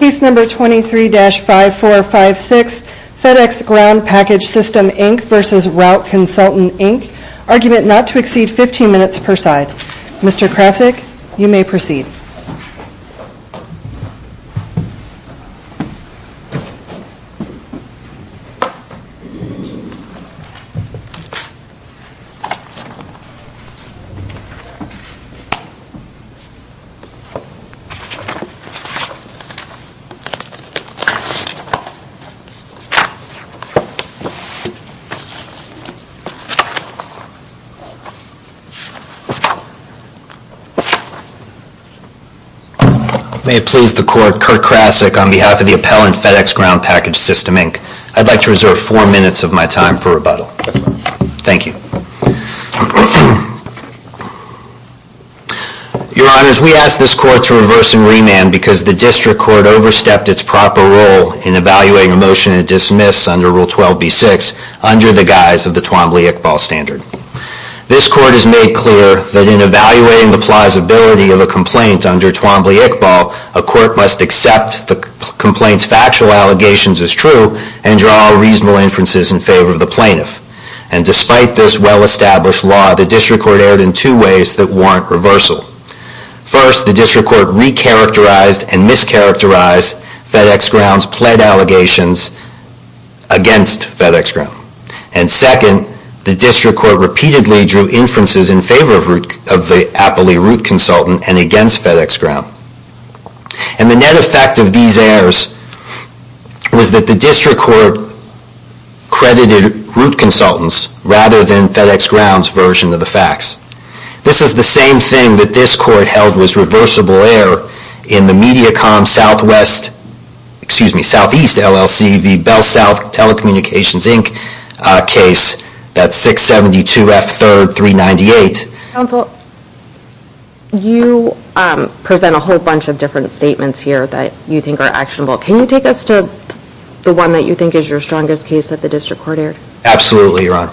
Case No. 23-5456 FedEx Ground Package Sys Inc v. Route Consultant Inc Argument not to exceed 15 minutes per side Mr. Krasick, you may proceed May it please the court, Kurt Krasick on behalf of the appellant FedEx Ground Package Sys Inc. I'd like to reserve four minutes of my time for rebuttal. Thank you. Your Honor, we ask this court to reverse and remand because the district court overstepped its proper role in evaluating a motion to dismiss under Rule 12b-6 under the guise of the Twombly-Iqbal standard. This court has made clear that in evaluating the plausibility of a complaint under Twombly-Iqbal, a court must accept the complaint's factual allegations as true and draw all reasonable inferences in favor of the plaintiff. Despite this well-established law, the district court erred in two ways that warrant reversal. First, the district court re-characterized and mischaracterized FedEx Ground's pled allegations against FedEx Ground. Second, the district court repeatedly drew inferences in favor of the appellee Route Consultant and against FedEx Ground. And the net effect of these errors was that the district court credited Route Consultants rather than FedEx Ground's version of the facts. This is the same thing that this court held was reversible error in the Mediacom Southeast LLC v. BellSouth Telecommunications Inc. case, that's 672 F 3rd 398. Counsel, you present a whole bunch of different statements here that you think are actionable. Can you take us to the one that you think is your strongest case that the district court erred? Absolutely, Ron.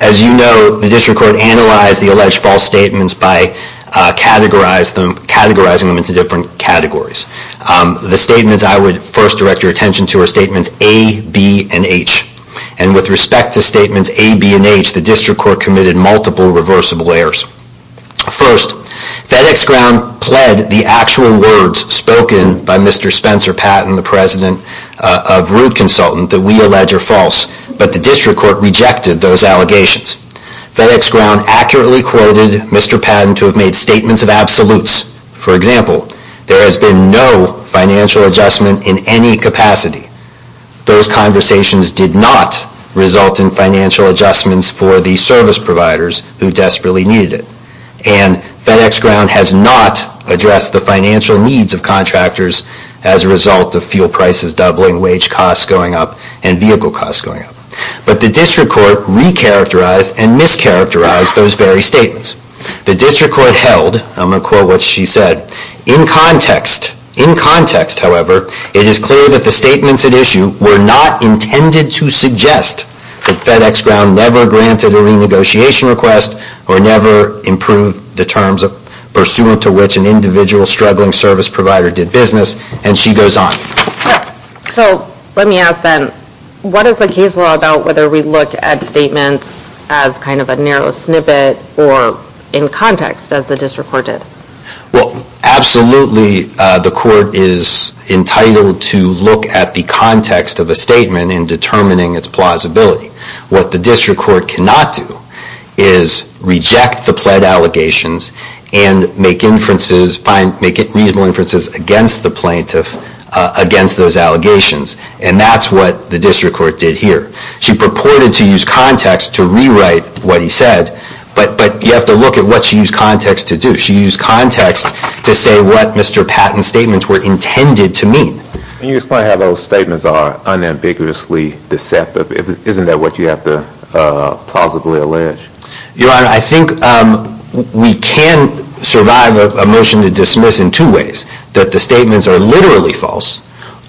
As you know, the district court analyzed the alleged false statements by categorizing them into different categories. The statements I would first direct your attention to are statements A, B, and H. And with respect to statements A, B, and H, the district court committed multiple reversible errors. First, FedEx Ground pled the actual words spoken by Mr. Spencer Patton, the president of Route Consultant, that we allege are false. But the district court rejected those allegations. FedEx Ground accurately quoted Mr. Patton to have made statements of absolutes. For example, there has been no financial adjustment in any capacity. Those conversations did not result in financial adjustments for the service providers who desperately needed it. And FedEx Ground has not addressed the financial needs of contractors as a result of fuel prices doubling, wage costs going up, and vehicle costs going up. But the district court re-characterized and mischaracterized those very statements. The district court held, and I'm going to quote what she said, In context, however, it is clear that the statements at issue were not intended to suggest that FedEx Ground never granted a renegotiation request or never improved the terms pursuant to which an individual struggling service provider did business. And she goes on. So let me ask then, what is the case law about whether we look at statements as kind of a narrow snippet or in context, as the district court did? Well, absolutely the court is entitled to look at the context of a statement in determining its plausibility. What the district court cannot do is reject the pled allegations and make inferences, make reasonable inferences against the plaintiff, against those allegations. And that's what the district court did here. She purported to use context to rewrite what he said, but you have to look at what she used context to do. She used context to say what Mr. Patton's statements were intended to mean. Can you explain how those statements are unambiguously deceptive? Isn't that what you have to plausibly allege? Your Honor, I think we can survive a motion to dismiss in two ways. That the statements are literally false,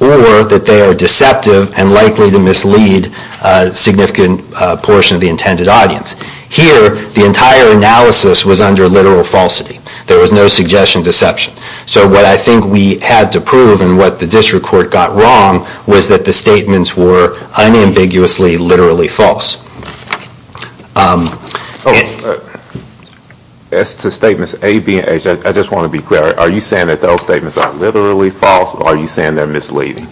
or that they are deceptive and likely to mislead a significant portion of the intended audience. Here, the entire analysis was under literal falsity. There was no suggestion of deception. So what I think we had to prove and what the district court got wrong was that the statements were unambiguously, literally false. As to statements A, B, and H, I just want to be clear. Are you saying that those statements are literally false, or are you saying they're misleading?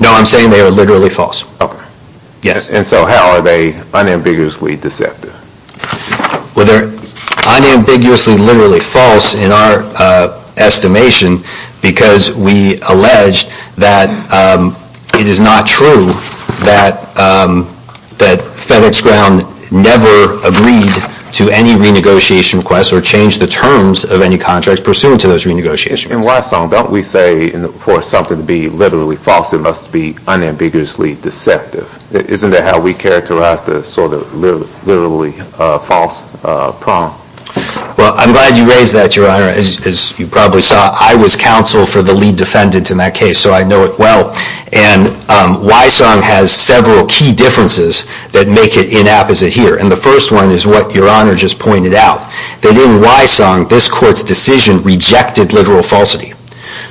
No, I'm saying they are literally false. Okay. Yes. And so how are they unambiguously deceptive? Well, they're unambiguously, literally false in our estimation because we allege that it is not true that FedEx Ground never agreed to any renegotiation request or changed the terms of any contracts pursuant to those renegotiations. And why so? Don't we say for something to be literally false it must be unambiguously deceptive? Isn't that how we characterize the sort of literally false problem? Well, I'm glad you raised that, Your Honor. As you probably saw, I was counsel for the lead defendant in that case, so I know it well. And Wysong has several key differences that make it inapposite here. And the first one is what Your Honor just pointed out, that in Wysong this court's decision rejected literal falsity.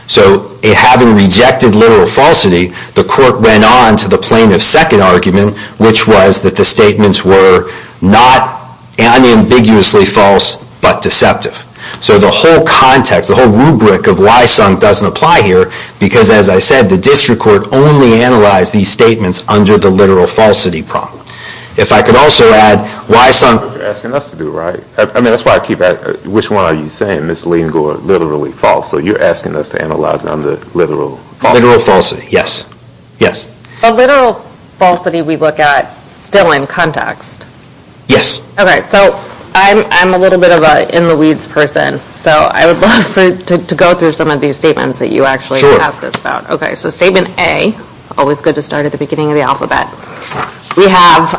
So having rejected literal falsity, the court went on to the plaintiff's second argument, which was that the statements were not unambiguously false but deceptive. So the whole context, the whole rubric of Wysong doesn't apply here because, as I said, the district court only analyzed these statements under the literal falsity problem. If I could also add, Wysong That's what you're asking us to do, right? I mean, that's why I keep asking, which one are you saying, misleading or literally false? So you're asking us to analyze under literal falsity? Literal falsity, yes. The literal falsity we look at still in context? Yes. Okay, so I'm a little bit of an in-the-weeds person, so I would love to go through some of these statements that you actually asked us about. Okay, so Statement A, always good to start at the beginning of the alphabet. We have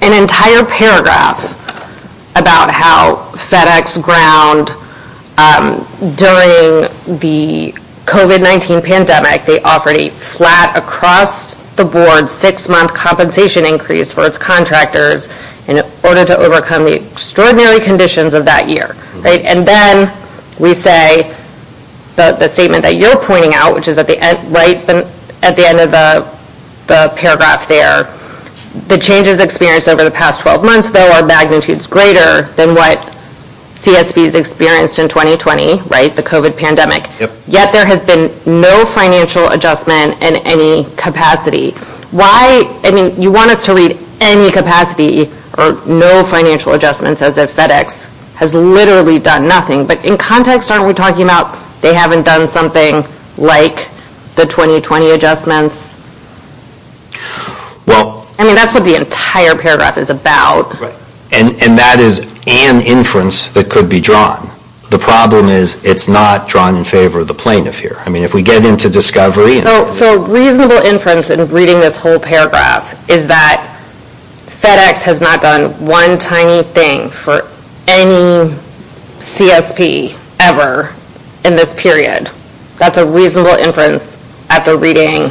an entire paragraph about how FedEx ground during the COVID-19 pandemic. They offered a flat across-the-board six-month compensation increase for its contractors in order to overcome the extraordinary conditions of that year. And then we say the statement that you're pointing out, which is at the end of the paragraph there. The changes experienced over the past 12 months, though, are magnitudes greater than what CSPs experienced in 2020, right, the COVID pandemic. Yet there has been no financial adjustment in any capacity. Why? I mean, you want us to read any capacity or no financial adjustments as if FedEx has literally done nothing. But in context, aren't we talking about they haven't done something like the 2020 adjustments? I mean, that's what the entire paragraph is about. And that is an inference that could be drawn. The problem is it's not drawn in favor of the plaintiff here. I mean, if we get into discovery... So reasonable inference in reading this whole paragraph is that FedEx has not done one tiny thing for any CSP ever in this period. That's a reasonable inference after reading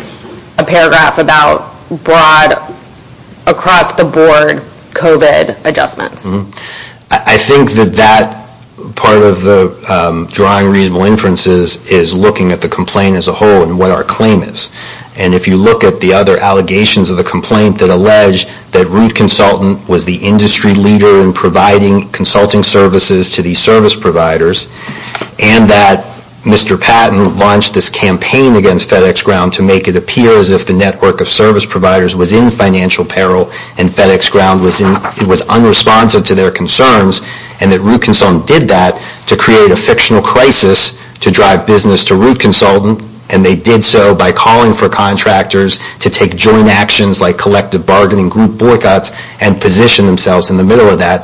a paragraph about broad across-the-board COVID adjustments. I think that that part of the drawing reasonable inferences is looking at the complaint as a whole and what our claim is. And if you look at the other allegations of the complaint that allege that Root Consultant was the industry leader in providing consulting services to these service providers and that Mr. Patton launched this campaign against FedEx Ground to make it appear as if the network of service providers was in financial peril and FedEx Ground was unresponsive to their concerns and that Root Consultant did that to create a fictional crisis to drive business to Root Consultant. And they did so by calling for contractors to take joint actions like collective bargaining, group boycotts and position themselves in the middle of that.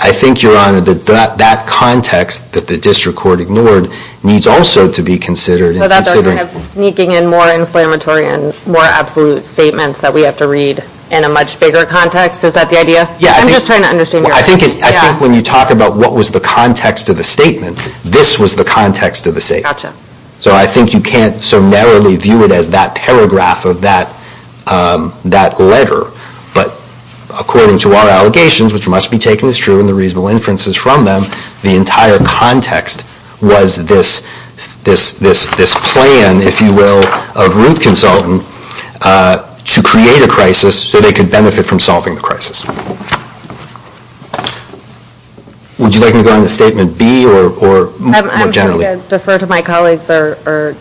I think, Your Honor, that that context that the district court ignored needs also to be considered. So that they're sneaking in more inflammatory and more absolute statements that we have to read in a much bigger context? Is that the idea? I'm just trying to understand your argument. I think when you talk about what was the context of the statement, this was the context of the statement. Gotcha. So I think you can't so narrowly view it as that paragraph of that letter. But according to our allegations, which must be taken as true and the reasonable inferences from them, the entire context was this plan, if you will, of Root Consultant to create a crisis so they could benefit from solving the crisis. Would you like me to go on to Statement B or more generally? I'm going to defer to my colleagues or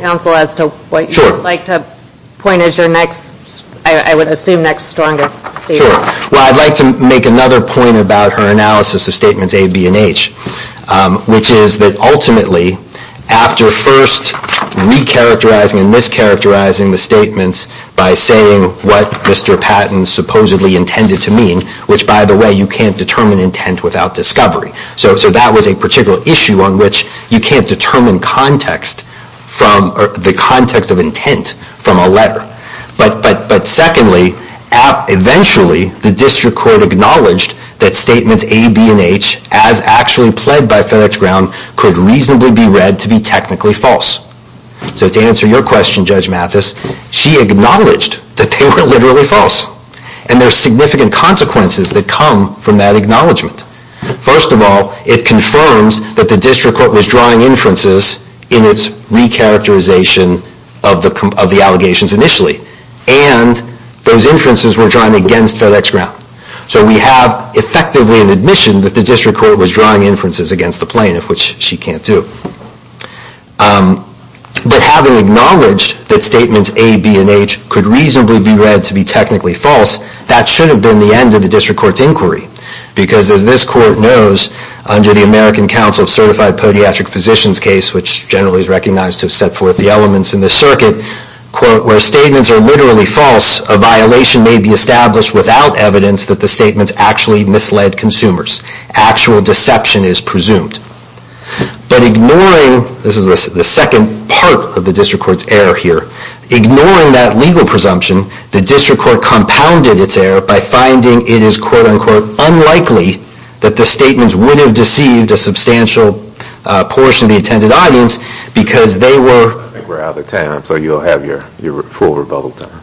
counsel as to what you would like to point as your next, I would assume, next strongest statement. Sure. Well, I'd like to make another point about her analysis of Statements A, B and H, which is that ultimately, after first recharacterizing and mischaracterizing the statements by saying what Mr. Patton supposedly intended to mean, which, by the way, you can't determine intent without discovery. So that was a particular issue on which you can't determine context or the context of intent from a letter. But secondly, eventually, the district court acknowledged that Statements A, B and H, as actually pled by FedEx Ground, could reasonably be read to be technically false. So to answer your question, Judge Mathis, she acknowledged that they were literally false. And there are significant consequences that come from that acknowledgement. First of all, it confirms that the district court was drawing inferences in its recharacterization of the allegations initially, and those inferences were drawn against FedEx Ground. So we have effectively an admission that the district court was drawing inferences against the plaintiff, which she can't do. But having acknowledged that Statements A, B and H could reasonably be read to be technically false, that should have been the end of the district court's inquiry because as this court knows, under the American Council of Certified Podiatric Physicians case, which generally is recognized to have set forth the elements in this circuit, where statements are literally false, a violation may be established without evidence that the statements actually misled consumers. Actual deception is presumed. But ignoring, this is the second part of the district court's error here, ignoring that legal presumption, the district court compounded its error by finding it is quote-unquote unlikely that the statements would have deceived a substantial portion of the attended audience because they were... I think we're out of time, so you'll have your full rebuttal time.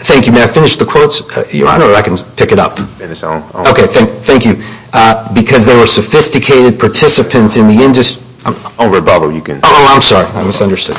Thank you. May I finish the quotes? I can pick it up. Finish on... Okay, thank you. Because there were sophisticated participants in the industry... On rebuttal, you can... Oh, I'm sorry. I misunderstood.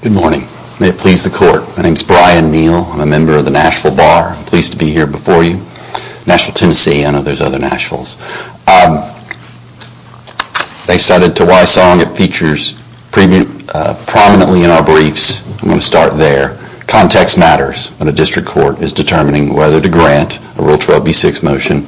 Good morning. May it please the court. My name is Brian Neal. I'm a member of the Nashville Bar. I'm pleased to be here before you. Nashville, Tennessee. I know there's other Nashvilles. They cited to Wysong. It features prominently in our briefs. I'm going to start there. Context matters when a district court is determining whether to grant a Rule 12b6 motion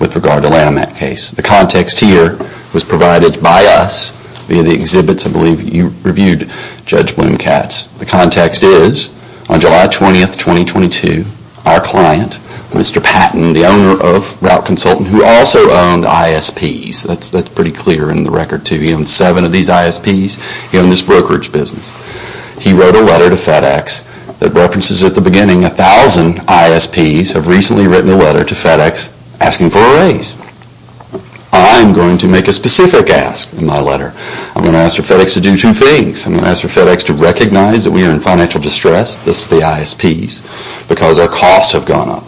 with regard to Lanhamette case. The context here was provided by us via the exhibits. I believe you reviewed Judge Bloom-Katz. The context is on July 20th, 2022, our client, Mr. Patton, the owner of Route Consultant, who also owned ISPs. That's pretty clear in the record, too. He owned seven of these ISPs. He owned this brokerage business. He wrote a letter to FedEx that references at the beginning 1,000 ISPs have recently written a letter to FedEx asking for a raise. I'm going to make a specific ask in my letter. I'm going to ask for FedEx to do two things. I'm going to ask for FedEx to recognize that we are in financial distress, thus the ISPs, because our costs have gone up.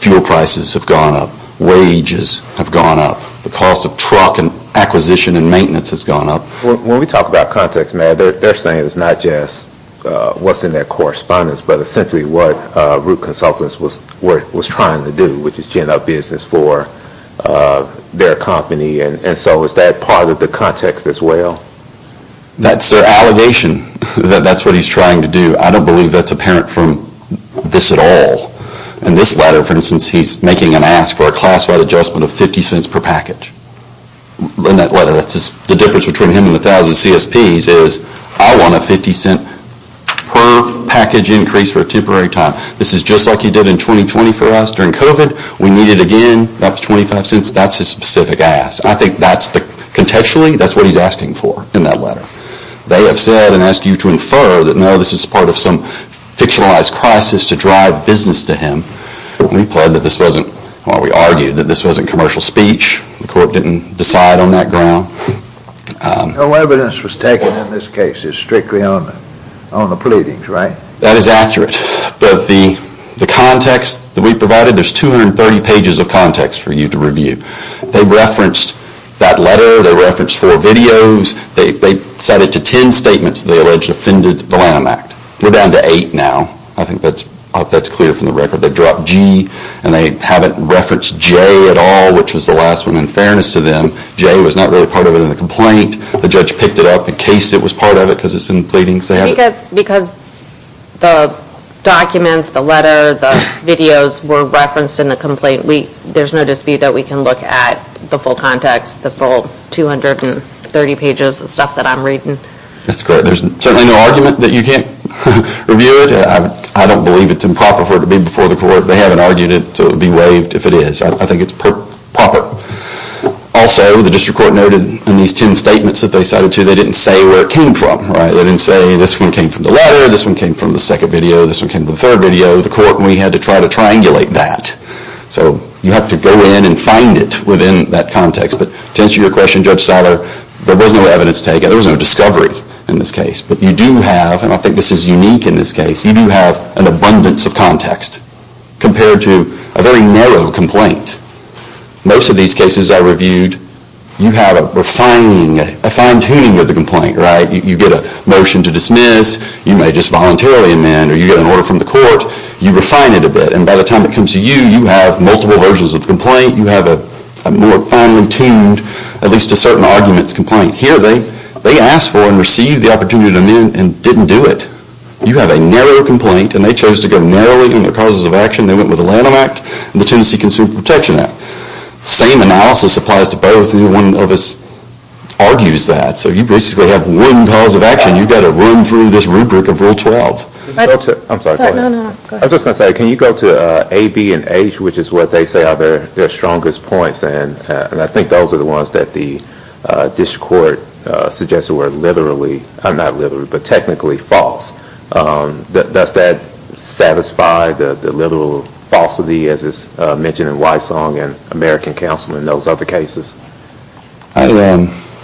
Fuel prices have gone up. Wages have gone up. The cost of truck acquisition and maintenance has gone up. When we talk about context, Matt, they're saying it's not just what's in their correspondence, but essentially what Route Consultants was trying to do, which is to end up business for their company. So is that part of the context as well? That's their allegation. That's what he's trying to do. I don't believe that's apparent from this at all. In this letter, for instance, he's making an ask for a classified adjustment of 50 cents per package. In that letter, the difference between him and the 1,000 CSPs is I want a 50 cent per package increase for a temporary time. This is just like you did in 2020 for us during COVID. We need it again. That was 25 cents. That's his specific ask. I think contextually that's what he's asking for in that letter. They have said and asked you to infer that, no, this is part of some fictionalized crisis to drive business to him. We argued that this wasn't commercial speech. The court didn't decide on that ground. No evidence was taken in this case. It's strictly on the pleadings, right? That is accurate. But the context that we provided, there's 230 pages of context for you to review. They referenced that letter. They referenced four videos. They cited to 10 statements they alleged offended the Lamb Act. We're down to eight now. I think that's clear from the record. They dropped G and they haven't referenced J at all, which was the last one in fairness to them. J was not really part of it in the complaint. The judge picked it up in case it was part of it because it's in the pleadings. Because the documents, the letter, the videos were referenced in the complaint, there's no dispute that we can look at the full context, the full 230 pages of stuff that I'm reading. That's correct. There's certainly no argument that you can't review it. I don't believe it's improper for it to be before the court. They haven't argued it, so it would be waived if it is. I think it's proper. Also, the district court noted in these 10 statements that they cited to, they didn't say where it came from, right? They didn't say this one came from the letter, this one came from the second video, this one came from the third video. The court, we had to try to triangulate that. So you have to go in and find it within that context. But to answer your question, Judge Seiler, there was no evidence taken. There was no discovery in this case. But you do have, and I think this is unique in this case, you do have an abundance of context compared to a very narrow complaint. Most of these cases I reviewed, you have a refining, a fine-tuning of the complaint, right? You get a motion to dismiss. You may just voluntarily amend, or you get an order from the court. You refine it a bit, and by the time it comes to you, you have multiple versions of the complaint. You have a more fine-tuned, at least to certain arguments, complaint. Here they asked for and received the opportunity to amend and didn't do it. You have a narrow complaint, and they chose to go narrowly in their causes of action. They went with the Lanham Act and the Tennessee Consumer Protection Act. The same analysis applies to both, and one of us argues that. So you basically have one cause of action. You've got to run through this rubric of Rule 12. I'm sorry, go ahead. No, no, go ahead. I was just going to say, can you go to A, B, and H, which is what they say are their strongest points, and I think those are the ones that the district court suggests were literally, not literally, but technically false. Does that satisfy the literal falsity as is mentioned in Wysong and American Counsel in those other cases?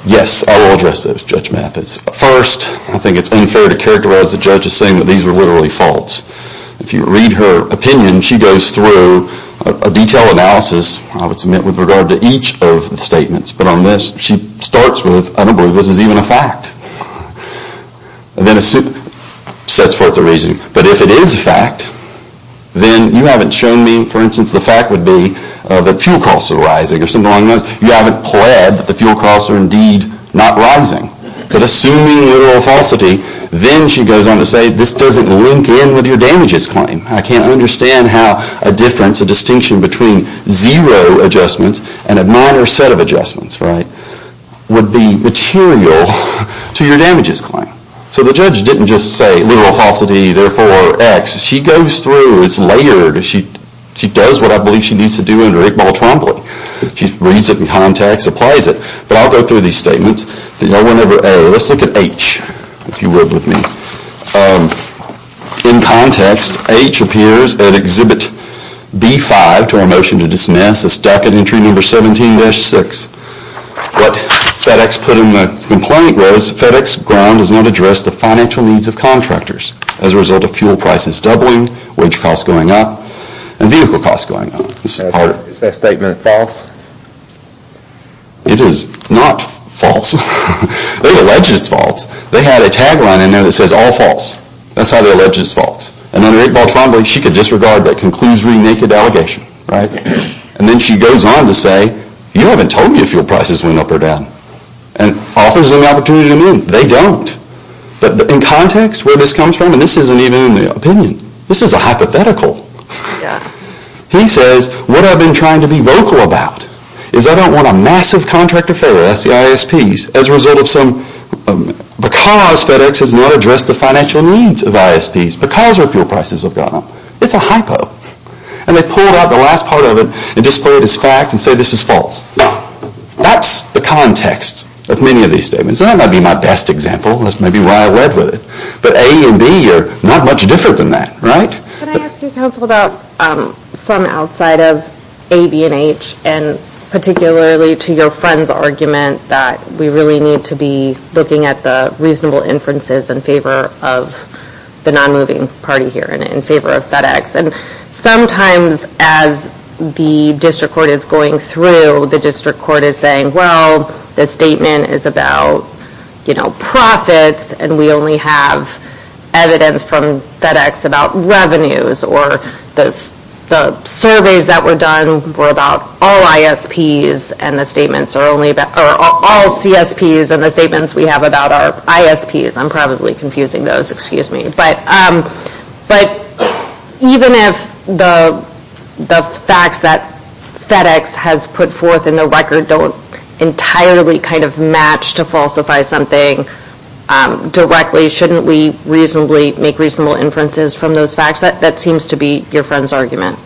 Yes, I will address those, Judge Mathis. First, I think it's unfair to characterize the judge as saying that these were literally false. If you read her opinion, she goes through a detailed analysis, I would submit, with regard to each of the statements, but on this she starts with, I don't believe this is even a fact, and then sets forth the reasoning. But if it is a fact, then you haven't shown me, for instance, the fact would be that fuel costs are rising or something along those lines. You haven't pled that the fuel costs are indeed not rising. But assuming the literal falsity, then she goes on to say, this doesn't link in with your damages claim. I can't understand how a difference, a distinction between zero adjustments and a minor set of adjustments would be material to your damages claim. So the judge didn't just say literal falsity, therefore X. She goes through, it's layered. She does what I believe she needs to do under Iqbal Trombley. She reads it in context, applies it. But I'll go through these statements. Let's look at H, if you would with me. In context, H appears at Exhibit B-5 to our motion to dismiss, a stack at entry number 17-6. What FedEx put in the complaint was, FedEx ground does not address the financial needs of contractors. As a result of fuel prices doubling, wage costs going up, and vehicle costs going up. Is that statement false? It is not false. They've alleged it's false. They had a tagline in there that says, all false. That's how they allege it's false. And under Iqbal Trombley, she could disregard that conclusory naked allegation. And then she goes on to say, you haven't told me if fuel prices went up or down. And offers them the opportunity to move. They don't. But in context, where this comes from, and this isn't even in the opinion, this is a hypothetical. He says, what I've been trying to be vocal about, is I don't want a massive contract of failure, that's the ISPs, as a result of some... because FedEx has not addressed the financial needs of ISPs, because our fuel prices have gone up. It's a hypo. And they pulled out the last part of it, and displayed as fact, and say this is false. Now, that's the context of many of these statements. That might be my best example, that's maybe why I went with it. But A and B are not much different than that. Right? Can I ask you, counsel, about some outside of A, B, and H, and particularly to your friend's argument, that we really need to be looking at the reasonable inferences in favor of the non-moving party here, and in favor of FedEx. And sometimes, as the district court is going through, the district court is saying, well, the statement is about profits, and we only have evidence from FedEx about revenues, or the surveys that were done were about all ISPs, and the statements are only about... or all CSPs, and the statements we have about our ISPs. I'm probably confusing those, excuse me. But even if the facts that FedEx has put forth in the record don't entirely kind of match to falsify something, directly, shouldn't we reasonably make reasonable inferences from those facts? That seems to be your friend's argument.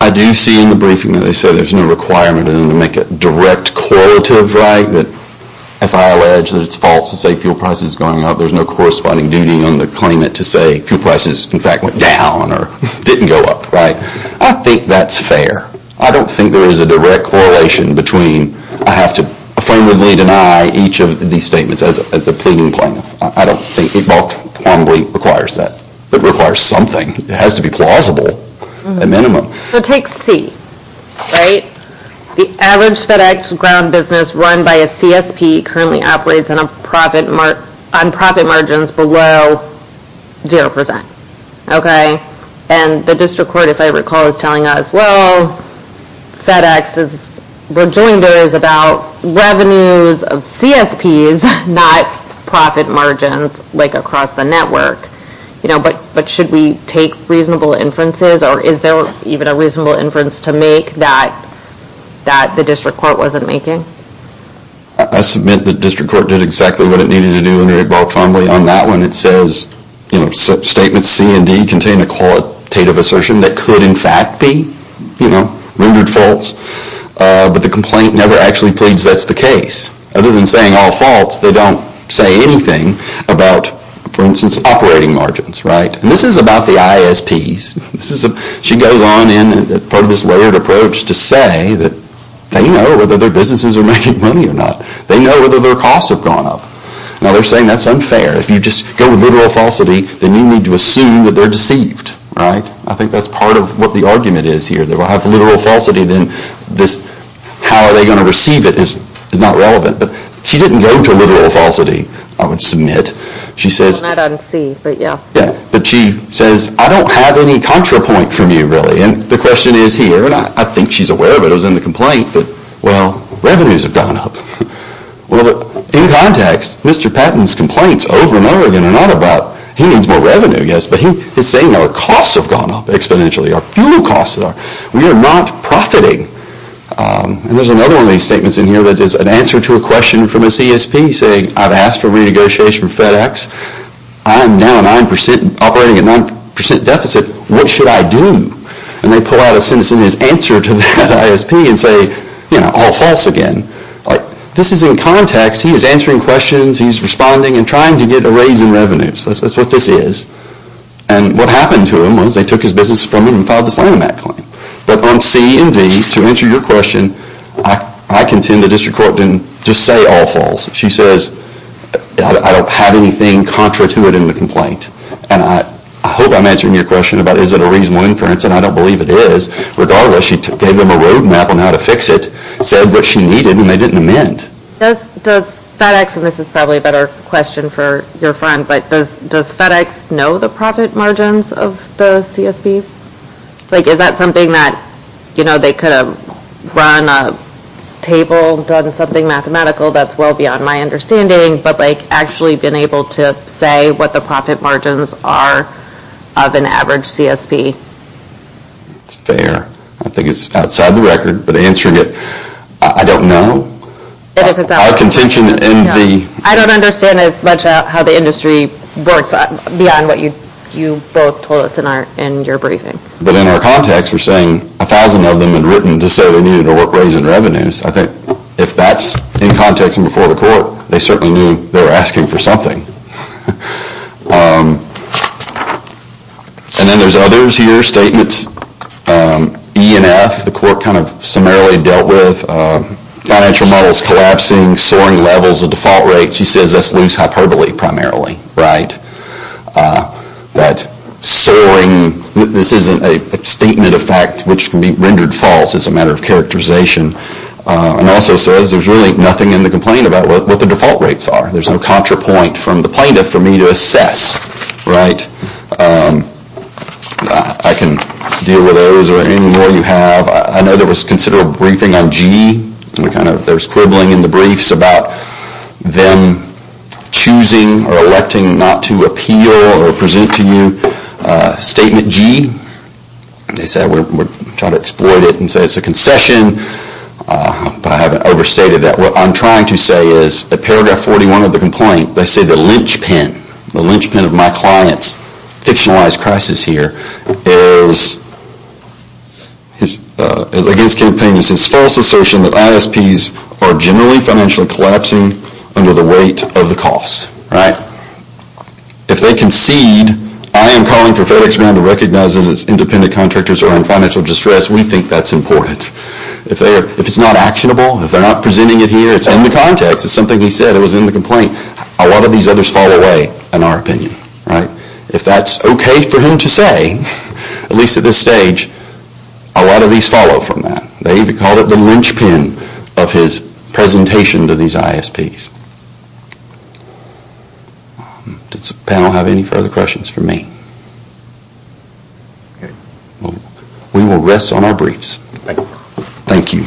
I do see in the briefing that they said there's no requirement in them to make a direct correlative, right? That if I allege that it's false to say fuel prices are going up, there's no corresponding duty on the claimant to say fuel prices, in fact, went down, or didn't go up, right? I think that's fair. I don't think there is a direct correlation between I have to affirmatively deny each of these statements as a pleading claimant. I don't think it qualitatively requires that. It requires something. It has to be plausible, at minimum. So take C, right? The average FedEx ground business run by a CSP currently operates on profit margins below 0%, okay? And the district court, if I recall, is telling us, well, FedEx is rejoinders about revenues of CSPs, not profit margins like across the network. But should we take reasonable inferences, or is there even a reasonable inference to make that the district court wasn't making? I submit the district court did exactly what it needed to do and it evolved fondly on that one. It says statements C and D contain a qualitative assertion that could in fact be, you know, rendered false. But the complaint never actually pleads that's the case. Other than saying all false, they don't say anything about, for instance, operating margins, right? And this is about the ISPs. She goes on in part of this layered approach to say that they know whether their businesses are making money or not. They know whether their costs have gone up. Now, they're saying that's unfair. If you just go with literal falsity, then you need to assume that they're deceived, right? I think that's part of what the argument is here. If I have literal falsity, then this how are they going to receive it is not relevant. But she didn't go to literal falsity. I would submit. She says... Well, not on C, but yeah. Yeah, but she says, I don't have any contra point from you, really. And the question is here, and I think she's aware of it, it was in the complaint, that, well, revenues have gone up. Well, in context, Mr. Patton's complaints over and over again are not about he needs more revenue, yes, but he is saying our costs have gone up exponentially, our fuel costs have gone up. We are not profiting. And there's another one of these statements in here that is an answer to a question from a CSP saying, I've asked for renegotiation of FedEx. I am now operating at 9% deficit. What should I do? And they pull out a sentence in his answer to that ISP and say, you know, all false again. This is in context. He is answering questions. He's responding and trying to get a raise in revenues. That's what this is. And what happened to him was they took his business from him and filed this Lanham Act claim. But on C and D, to answer your question, I contend the district court didn't just say all false. She says, I don't have anything contra to it in the complaint. And I hope I'm answering your question about is it a reasonable inference, and I don't believe it is. Regardless, she gave them a road map on how to fix it, said what she needed, and they didn't amend. Does FedEx, and this is probably a better question for your friend, but does FedEx know the profit margins of the CSPs? Like is that something that, you know, they could have run a table, done something mathematical that's well beyond my understanding, but like actually been able to say what the profit margins are of an average CSP? It's fair. I think it's outside the record. But answering it, I don't know. Our contention in the- I don't understand as much how the industry works beyond what you both told us in your briefing. But in our context, we're saying a thousand of them had written to say they needed to work raising revenues. I think if that's in context and before the court, they certainly knew they were asking for something. And then there's others here, statements, E and F, the court kind of summarily dealt with financial models collapsing, soaring levels of default rates. She says that's loose hyperbole primarily, right? That soaring, this isn't a statement of fact, which can be rendered false as a matter of characterization. And also says there's really nothing in the complaint about what the default rates are. There's no contra point from the plaintiff for me to assess, right? I can deal with those or any more you have. I know there was considerable briefing on G. There's quibbling in the briefs about them choosing or electing not to appeal or present to you statement G. They say we're trying to exploit it and say it's a concession. But I haven't overstated that. What I'm trying to say is that paragraph 41 of the complaint, they say the linchpin, the linchpin of my client's fictionalized crisis here is against campaigners' false assertion that ISPs are generally financially collapsing under the weight of the cost, right? If they concede, I am calling for FedEx Ground to recognize that its independent contractors are in financial distress. We think that's important. If it's not actionable, if they're not presenting it here, it's in the context. It's something we said. It was in the complaint. A lot of these others fall away in our opinion, right? If that's okay for him to say, at least at this stage, a lot of these follow from that. They even call it the linchpin of his presentation to these ISPs. Does the panel have any further questions for me? We will rest on our briefs. Thank you.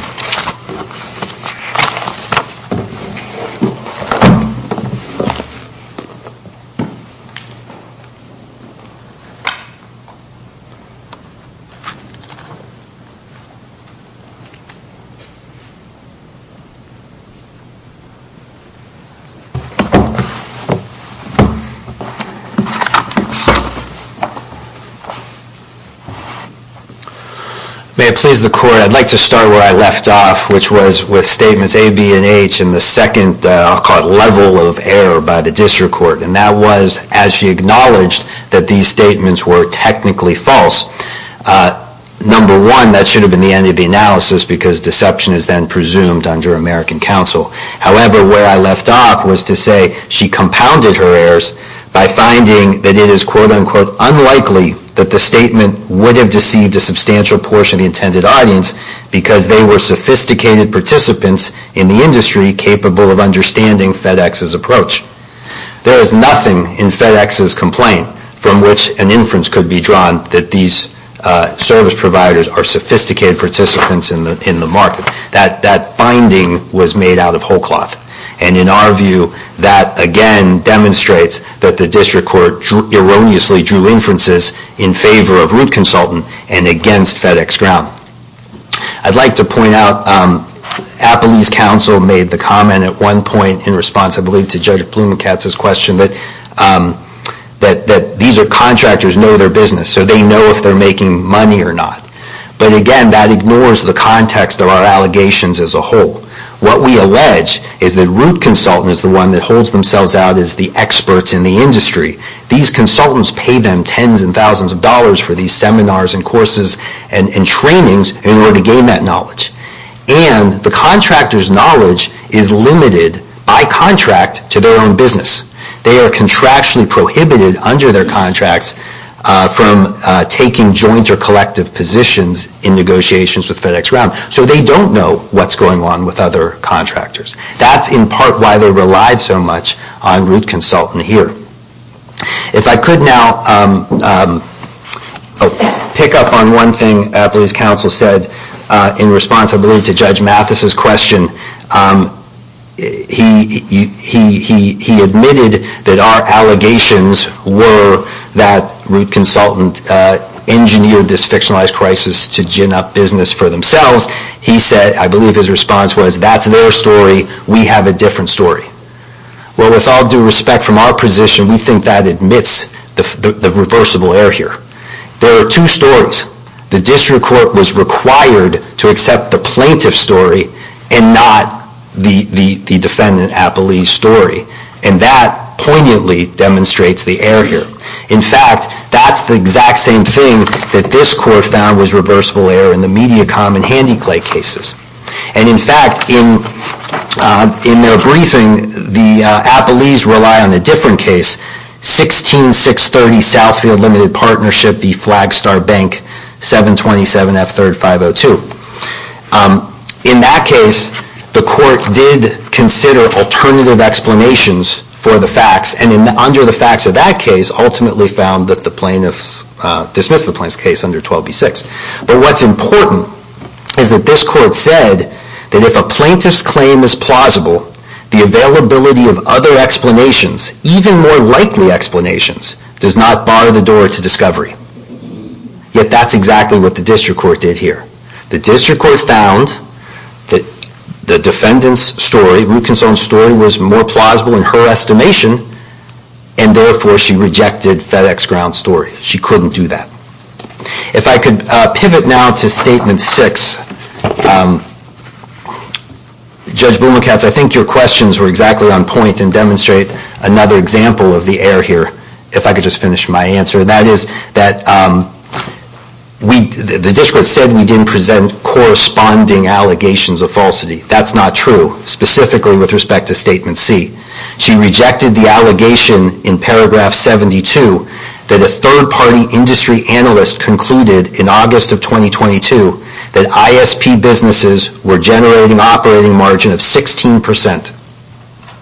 May it please the Court, I'd like to start where I left off. I'd like to start where I left off, which was with statements A, B, and H, and the second level of error by the District Court. And that was as she acknowledged that these statements were technically false. Number one, that should have been the end of the analysis because deception is then presumed under American counsel. However, where I left off was to say she compounded her errors by finding that it is quote-unquote unlikely that the statement would have deceived a substantial portion of the intended audience because they were sophisticated participants in the industry capable of understanding FedEx's approach. There is nothing in FedEx's complaint from which an inference could be drawn that these service providers are sophisticated participants in the market. That finding was made out of whole cloth. And in our view, that again demonstrates that the District Court erroneously drew inferences in favor of Root Consultant and against FedEx Ground. I'd like to point out, Appley's counsel made the comment at one point in response, I believe, to Judge Blumenkatz's question that these contractors know their business, so they know if they're making money or not. But again, that ignores the context of our allegations as a whole. What we allege is that Root Consultant is the one that holds themselves out as the experts in the industry. These consultants pay them tens and thousands of dollars for these seminars and courses and trainings in order to gain that knowledge. And the contractor's knowledge is limited by contract to their own business. They are contractually prohibited under their contracts from taking joint or collective positions in negotiations with FedEx Ground. So they don't know what's going on with other contractors. That's in part why they relied so much on Root Consultant here. If I could now pick up on one thing Appley's counsel said in response, I believe, to Judge Mathis's question. He admitted that our allegations were that Root Consultant engineered this fictionalized crisis to gin up business for themselves. He said, I believe his response was, that's their story. We have a different story. Well, with all due respect from our position, we think that admits the reversible error here. There are two stories. The district court was required to accept the plaintiff's story and not the defendant, Appley's, story. And that poignantly demonstrates the error here. In fact, that's the exact same thing that this court found was reversible error in the Mediacom and Handiclay cases. And in fact, in their briefing, the Appley's rely on a different case, 16-630 Southfield Limited Partnership v. Flagstar Bank, 727F3-502. In that case, the court did consider alternative explanations for the facts and under the facts of that case ultimately found that the plaintiffs dismissed the plaintiff's case under 12b-6. But what's important is that this court said that if a plaintiff's claim is plausible, the availability of other explanations, even more likely explanations, does not bar the door to discovery. Yet that's exactly what the district court did here. The district court found that the defendant's story, Lukenson's story, was more plausible in her estimation and therefore she rejected FedExGround's story. She couldn't do that. If I could pivot now to Statement 6. Judge Bumacats, I think your questions were exactly on point and demonstrate another example of the error here. If I could just finish my answer. That is that the district court said we didn't present corresponding allegations of falsity. That's not true, specifically with respect to Statement C. She rejected the allegation in Paragraph 72 that a third-party industry analyst concluded in August of 2022 that ISP businesses were generating operating margin of 16%.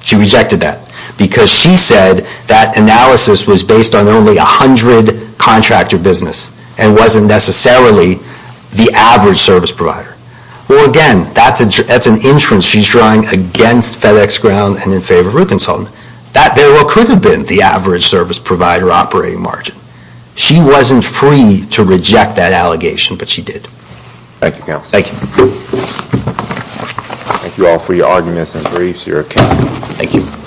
She rejected that because she said that analysis was based on only 100 contractor business and wasn't necessarily the average service provider. Well, again, that's an inference she's drawing against FedExGround and in favor of Lukenson. That very well could have been the average service provider operating margin. She wasn't free to reject that allegation, but she did. Thank you, Counsel. Thank you. Thank you all for your arguments and briefs, your accounts. Thank you.